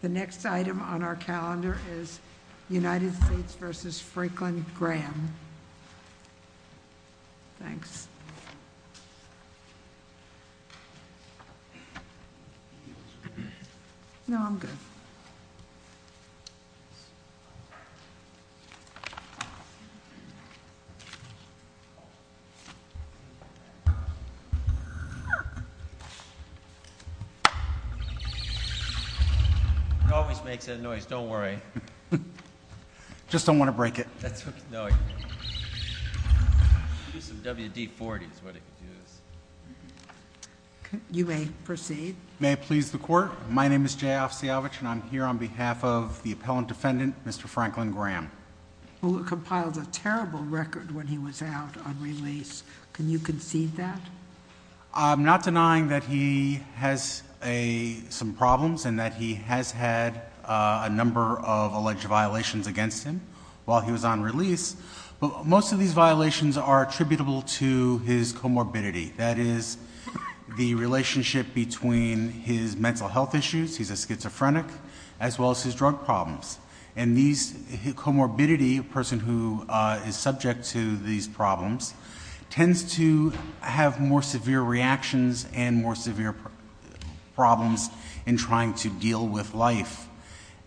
The next item on our calendar is United States v. Franklin Graham. Thanks. No, I'm good. It always makes that noise. Don't worry. I just don't want to break it. That's what's annoying me. Use some WD-40 is what I could use. You may proceed. May it please the Court. My name is Jay Ofsiavich, and I'm here on behalf of the appellant defendant, Mr. Franklin Graham. Who compiled a terrible record when he was out on release. Can you concede that? I'm not denying that he has some problems and that he has had a number of alleged violations against him while he was on release. But most of these violations are attributable to his comorbidity. That is the relationship between his mental health issues, he's a schizophrenic, as well as his drug problems. And comorbidity, a person who is subject to these problems, tends to have more severe reactions and more severe problems in trying to deal with life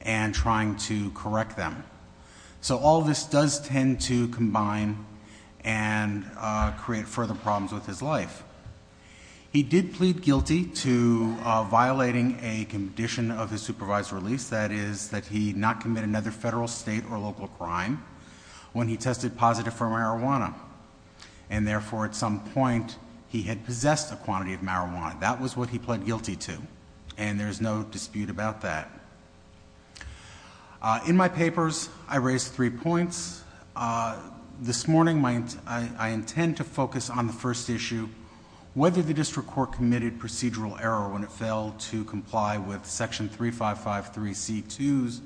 and trying to correct them. So all of this does tend to combine and create further problems with his life. He did plead guilty to violating a condition of his supervised release. That is that he not commit another federal, state, or local crime when he tested positive for marijuana. And therefore, at some point, he had possessed a quantity of marijuana. That was what he pled guilty to. And there's no dispute about that. In my papers, I raise three points. This morning, I intend to focus on the first issue, whether the district court committed procedural error when it failed to comply with Section 3553C2's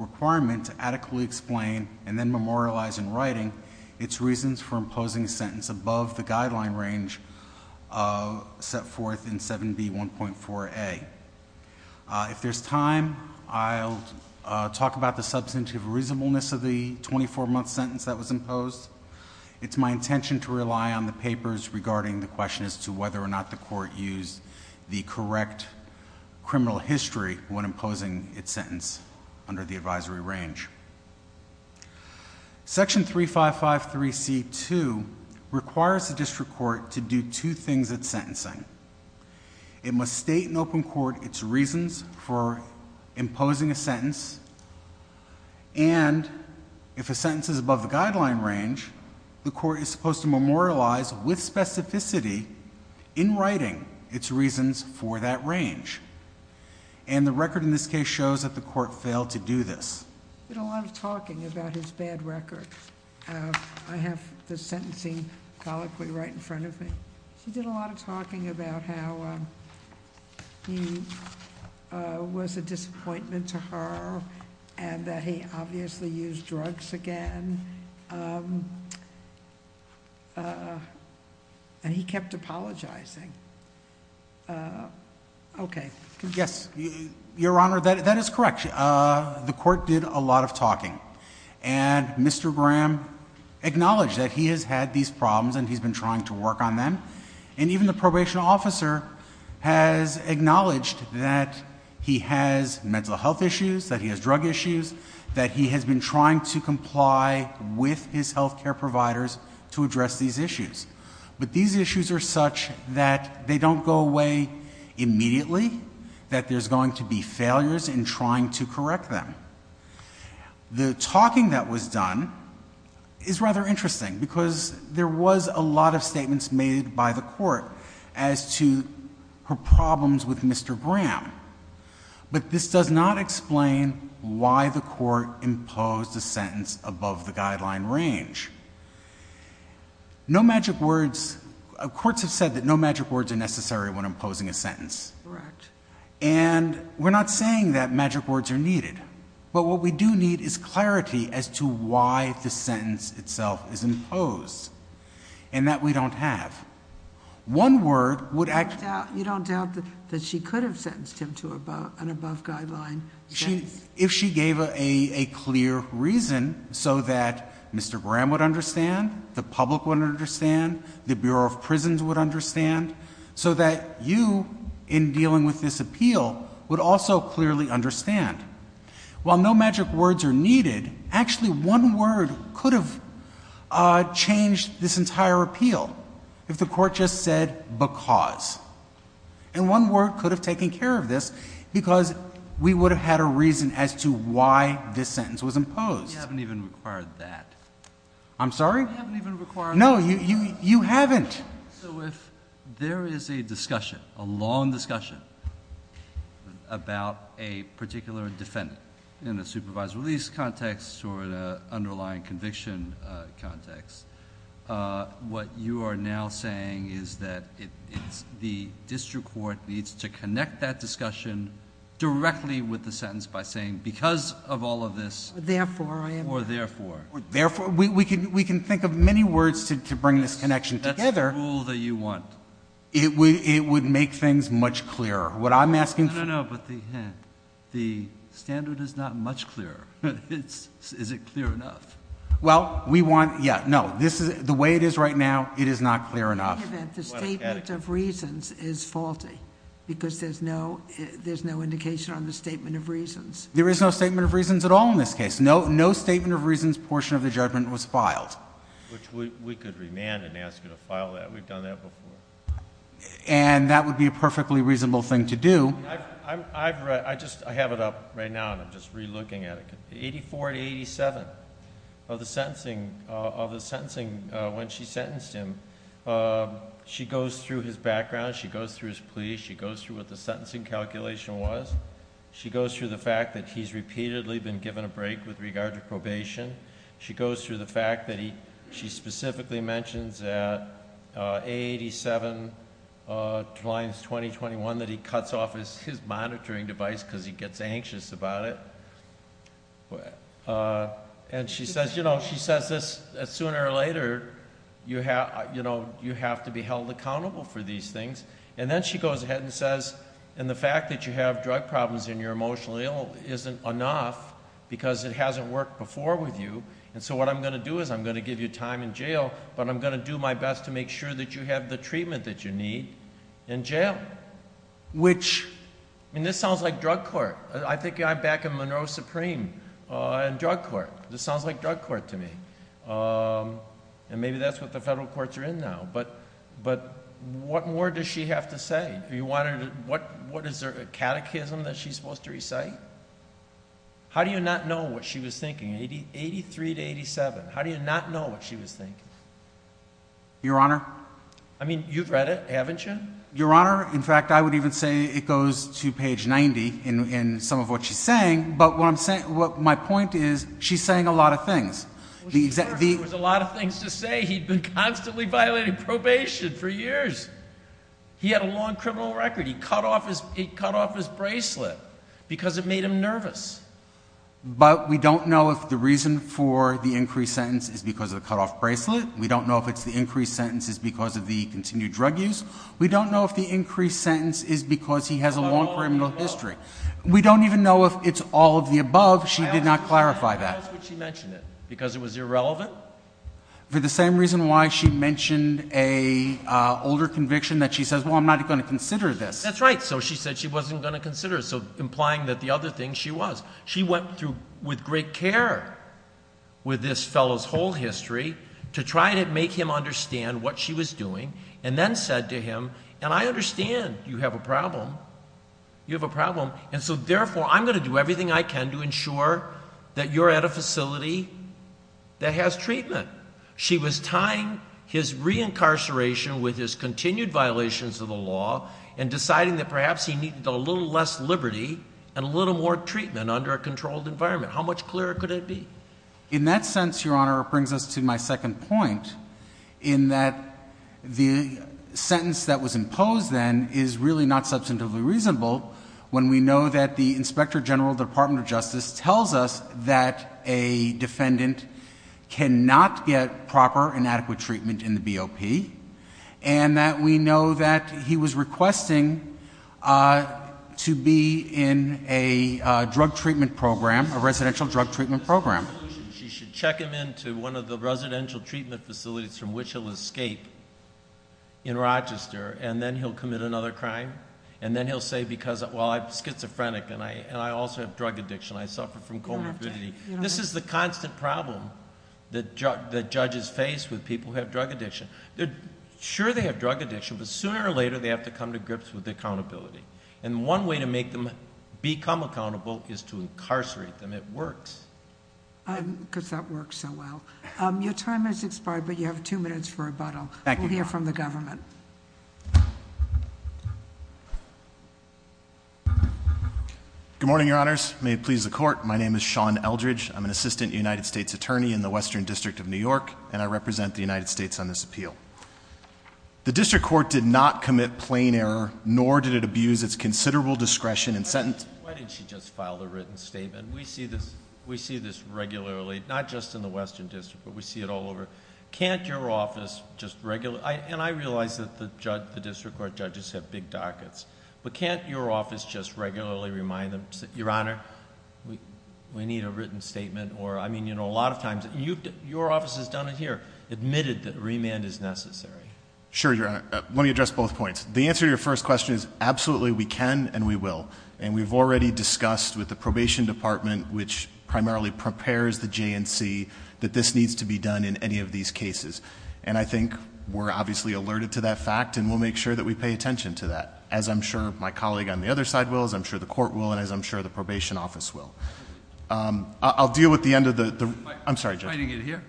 requirement to adequately explain, and then memorialize in writing, its reasons for imposing a sentence above the guideline range set forth in 7B1.4a. If there's time, I'll talk about the substantive reasonableness of the 24-month sentence that was imposed. It's my intention to rely on the papers regarding the question as to whether or not the court used the correct criminal history when imposing its sentence under the advisory range. Section 3553C2 requires the district court to do two things at sentencing. It must state in open court its reasons for imposing a sentence, and if a sentence is above the guideline range, the court is supposed to memorialize with specificity in writing its reasons for that range. And the record in this case shows that the court failed to do this. He did a lot of talking about his bad record. I have the sentencing colloquy right in front of me. She did a lot of talking about how he was a disappointment to her and that he obviously used drugs again, and he kept apologizing. Okay. Yes, Your Honor, that is correct. The court did a lot of talking, and Mr. Graham acknowledged that he has had these problems and he's been trying to work on them, and even the probation officer has acknowledged that he has mental health issues, that he has drug issues, that he has been trying to comply with his health care providers to address these issues. But these issues are such that they don't go away immediately, that there's going to be failures in trying to correct them. The talking that was done is rather interesting because there was a lot of statements made by the court as to her problems with Mr. Graham. But this does not explain why the court imposed a sentence above the guideline range. No magic words – courts have said that no magic words are necessary when imposing a sentence. Correct. And we're not saying that magic words are needed, but what we do need is clarity as to why the sentence itself is imposed, and that we don't have. One word would actually – You don't doubt that she could have sentenced him to an above guideline. If she gave a clear reason so that Mr. Graham would understand, the public would understand, the Bureau of Prisons would understand, so that you, in dealing with this appeal, would also clearly understand. While no magic words are needed, actually one word could have changed this entire appeal if the court just said because. And one word could have taken care of this because we would have had a reason as to why this sentence was imposed. You haven't even required that. I'm sorry? You haven't even required that. No, you haven't. So if there is a discussion, a long discussion, about a particular defendant in a supervised release context or an underlying conviction context, what you are now saying is that the district court needs to connect that discussion directly with the sentence by saying because of all of this or therefore. Therefore, we can think of many words to bring this connection together. That's the rule that you want. It would make things much clearer. What I'm asking for – No, no, no, but the standard is not much clearer. Is it clear enough? Well, we want – yeah, no. The way it is right now, it is not clear enough. The statement of reasons is faulty because there's no indication on the statement of reasons. There is no statement of reasons at all in this case. No statement of reasons portion of the judgment was filed. Which we could remand and ask you to file that. We've done that before. And that would be a perfectly reasonable thing to do. I have it up right now, and I'm just re-looking at it. 84 to 87 of the sentencing, when she sentenced him, she goes through his background. She goes through his plea. She goes through what the sentencing calculation was. She goes through the fact that he's repeatedly been given a break with regard to probation. She goes through the fact that he – she specifically mentions at 87 to lines 20, 21, that he cuts off his monitoring device because he gets anxious about it. And she says, you know, she says this sooner or later, you have to be held accountable for these things. And then she goes ahead and says, and the fact that you have drug problems and you're emotionally ill isn't enough because it hasn't worked before with you. And so what I'm going to do is I'm going to give you time in jail, but I'm going to do my best to make sure that you have the treatment that you need in jail. Which, I mean, this sounds like drug court. I think I'm back in Monroe Supreme in drug court. This sounds like drug court to me. And maybe that's what the federal courts are in now. But what more does she have to say? What is there, a catechism that she's supposed to recite? How do you not know what she was thinking, 83 to 87? How do you not know what she was thinking? Your Honor? I mean, you've read it, haven't you? Your Honor, in fact, I would even say it goes to page 90 in some of what she's saying. But what I'm saying – my point is she's saying a lot of things. There was a lot of things to say. He'd been constantly violating probation for years. He had a long criminal record. He cut off his bracelet because it made him nervous. But we don't know if the reason for the increased sentence is because of the cut off bracelet. We don't know if it's the increased sentence is because of the continued drug use. We don't know if the increased sentence is because he has a long criminal history. We don't even know if it's all of the above. She did not clarify that. Why would she mention it? Because it was irrelevant? For the same reason why she mentioned an older conviction that she says, well, I'm not going to consider this. That's right. So she said she wasn't going to consider it, so implying that the other thing she was. She went through with great care with this fellow's whole history to try to make him understand what she was doing and then said to him, and I understand you have a problem. You have a problem. And so therefore, I'm going to do everything I can to ensure that you're at a facility that has treatment. She was tying his reincarceration with his continued violations of the law and deciding that perhaps he needed a little less liberty and a little more treatment under a controlled environment. How much clearer could it be? In that sense, Your Honor, it brings us to my second point in that the sentence that was imposed then is really not substantively reasonable when we know that the Inspector General of the Department of Justice tells us that a defendant cannot get proper and adequate treatment in the BOP and that we know that he was requesting to be in a drug treatment program, a residential drug treatment program. She should check him into one of the residential treatment facilities from which he'll escape in Rochester and then he'll commit another crime. And then he'll say, well, I'm schizophrenic and I also have drug addiction. I suffer from comorbidity. This is the constant problem that judges face with people who have drug addiction. Sure, they have drug addiction, but sooner or later they have to come to grips with accountability. And one way to make them become accountable is to incarcerate them. It works. Because that works so well. Your time has expired, but you have two minutes for rebuttal. We'll hear from the government. Good morning, Your Honors. May it please the Court. My name is Sean Eldridge. I'm an Assistant United States Attorney in the Western District of New York, and I represent the United States on this appeal. The District Court did not commit plain error, nor did it abuse its considerable discretion in sentencing. Why didn't she just file a written statement? We see this regularly, not just in the Western District, but we see it all over. Can't your office just regularly, and I realize that the District Court judges have big dockets, but can't your office just regularly remind them, Your Honor, we need a written statement? I mean, you know, a lot of times your office has done it here, admitted that remand is necessary. Sure, Your Honor. Let me address both points. The answer to your first question is absolutely we can and we will, and we've already discussed with the Probation Department, which primarily prepares the J&C, that this needs to be done in any of these cases, and I think we're obviously alerted to that fact, and we'll make sure that we pay attention to that, as I'm sure my colleague on the other side will, as I'm sure the Court will, and as I'm sure the Probation Office will. I'll deal with the end of the—I'm sorry, Judge. Are you fighting it here?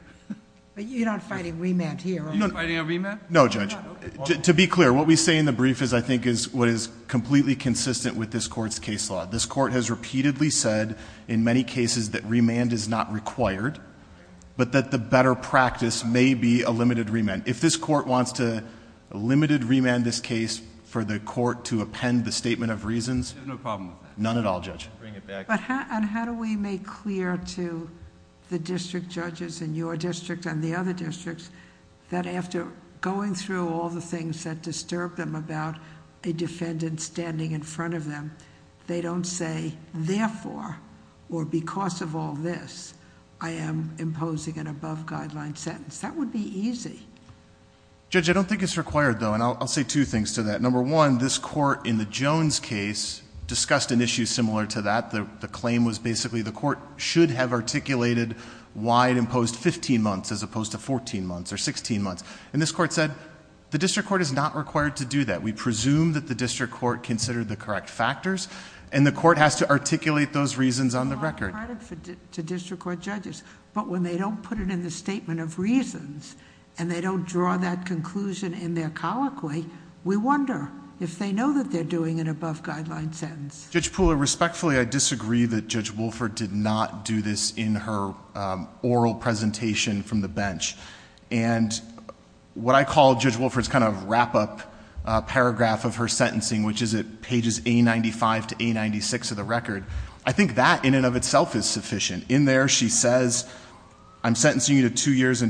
You're not fighting remand here, are you? You're not fighting a remand? No, Judge. To be clear, what we say in the brief is, I think, is what is completely consistent with this Court's case law. This Court has repeatedly said in many cases that remand is not required, but that the better practice may be a limited remand. If this Court wants to limited remand this case for the Court to append the statement of reasons... I have no problem with that. None at all, Judge. I'll bring it back. How do we make clear to the district judges in your district and the other districts that after going through all the things that disturb them about a defendant standing in front of them, they don't say, therefore, or because of all this, I am imposing an above-guideline sentence? That would be easy. Judge, I don't think it's required, though, and I'll say two things to that. Number one, this Court in the Jones case discussed an issue similar to that. The claim was basically the Court should have articulated why it imposed 15 months as opposed to 14 months or 16 months. And, this Court said, the district court is not required to do that. We presume that the district court considered the correct factors, and the Court has to articulate those reasons on the record.... to district court judges. But, when they don't put it in the statement of reasons, and they don't draw that conclusion in their colloquy, we wonder if they know that they're doing an above-guideline sentence. Judge Pooler, respectfully, I disagree that Judge Wolfert did not do this in her oral presentation from the bench. And, what I call Judge Wolfert's kind of wrap-up paragraph of her sentencing, which is at pages A95 to A96 of the record, I think that, in and of itself, is sufficient. In there, she says, I'm sentencing you to two years'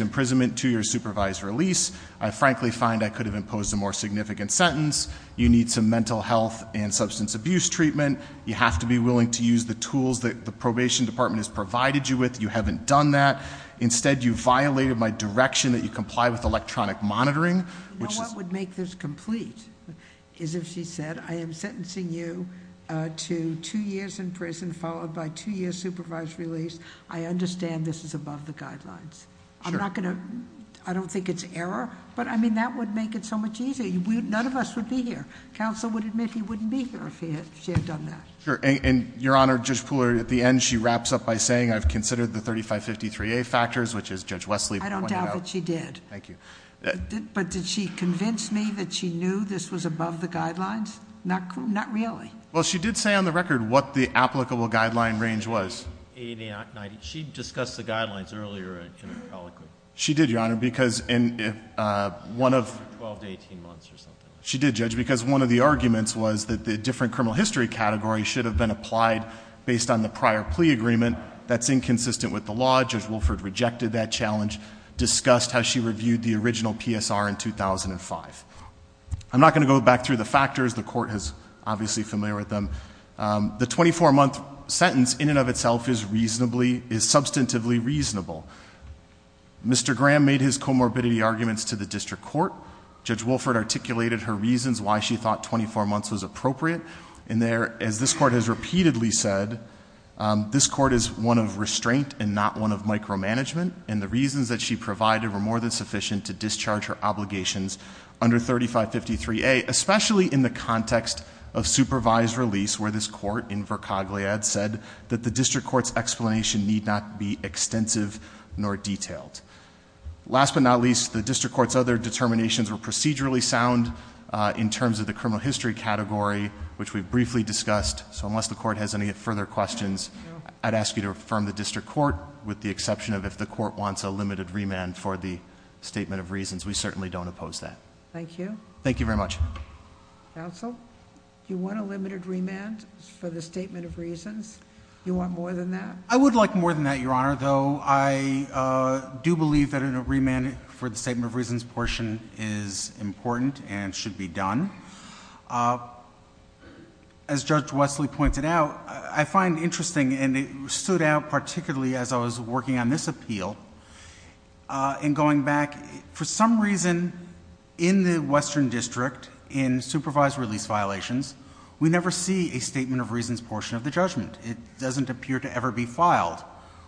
imprisonment, two years' supervised release. I frankly find I could have imposed a more significant sentence. You need some mental health and substance abuse treatment. You have to be willing to use the tools that the probation department has provided you with. You haven't done that. Instead, you violated my direction that you comply with electronic monitoring. What would make this complete is if she said, I am sentencing you to two years' in prison, followed by two years' supervised release. I understand this is above the guidelines. Sure. I'm not going to, I don't think it's error. But, I mean, that would make it so much easier. None of us would be here. Counsel would admit he wouldn't be here if she had done that. Sure. And, Your Honor, Judge Pooler, at the end, she wraps up by saying, I've considered the 3553A factors, which is Judge Wesley pointed out. I don't doubt that she did. Thank you. But did she convince me that she knew this was above the guidelines? Not really. Well, she did say on the record what the applicable guideline range was. She discussed the guidelines earlier in her colloquy. She did, Your Honor, because in one of... 12 to 18 months or something. She did, Judge, because one of the arguments was that the different criminal history category should have been applied based on the prior plea agreement. That's inconsistent with the law. Judge Wilford rejected that challenge. Discussed how she reviewed the original PSR in 2005. I'm not going to go back through the factors. The court is obviously familiar with them. The 24-month sentence in and of itself is reasonably, is substantively reasonable. Mr. Graham made his comorbidity arguments to the district court. Judge Wilford articulated her reasons why she thought 24 months was appropriate. And there, as this court has repeatedly said, this court is one of restraint and not one of micromanagement. And the reasons that she provided were more than sufficient to discharge her obligations under 3553A, especially in the context of supervised release where this court, Invercogliad, said that the district court's explanation need not be extensive nor detailed. Last but not least, the district court's other determinations were procedurally sound in terms of the criminal history category, which we briefly discussed. So unless the court has any further questions, I'd ask you to affirm the district court, with the exception of if the court wants a limited remand for the statement of reasons. We certainly don't oppose that. Thank you. Thank you very much. Counsel, do you want a limited remand for the statement of reasons? I would like more than that, Your Honor. Though I do believe that a remand for the statement of reasons portion is important and should be done. As Judge Wesley pointed out, I find interesting, and it stood out particularly as I was working on this appeal, in going back, for some reason, in the Western District, in supervised release violations, we never see a statement of reasons portion of the judgment. It doesn't appear to ever be filed.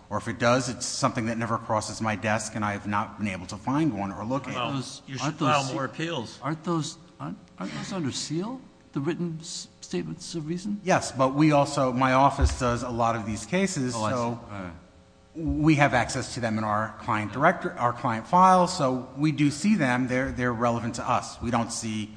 Or if it does, it's something that never crosses my desk, and I have not been able to find one or look at it. Well, you should file more appeals. Aren't those under seal, the written statements of reasons? Yes, but we also, my office does a lot of these cases, so we have access to them in our client files, so we do see them. They're relevant to us. We don't see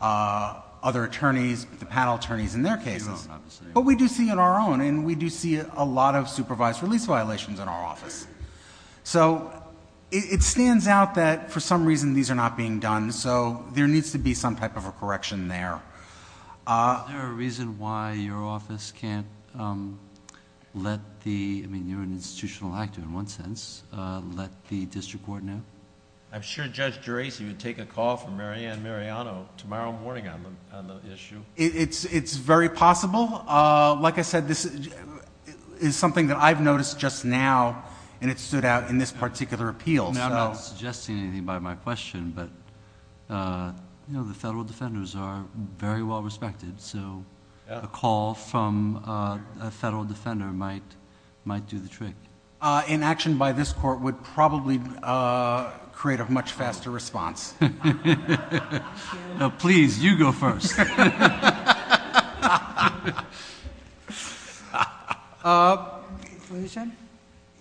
other attorneys, the panel attorneys, in their cases. But we do see in our own, and we do see a lot of supervised release violations in our office. So it stands out that, for some reason, these are not being done, so there needs to be some type of a correction there. Is there a reason why your office can't let the, I mean, you're an institutional actor in one sense, let the district coordinator? I'm sure Judge Geraci would take a call from Mary Ann Mariano tomorrow morning on the issue. It's very possible. Like I said, this is something that I've noticed just now, and it stood out in this particular appeal. I'm not suggesting anything by my question, but the federal defenders are very well respected, so a call from a federal defender might do the trick. An action by this court would probably create a much faster response. Please, you go first.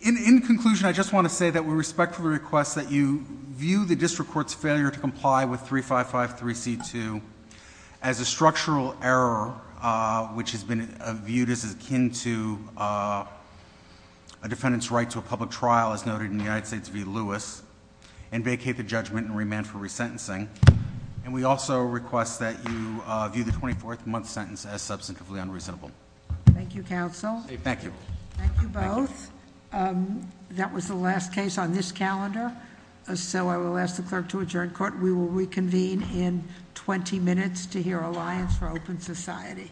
In conclusion, I just want to say that we respectfully request that you view the district court's failure to comply with 3553C2 as a structural error, which has been viewed as akin to a defendant's right to a public trial, as noted in the United States v. Lewis, and vacate the judgment and remand for resentencing. And we also request that you view the 24th month sentence as substantively unreasonable. Thank you, counsel. Thank you. Thank you both. That was the last case on this calendar, so I will ask the clerk to adjourn court. We will reconvene in 20 minutes to hear Alliance for Open Society.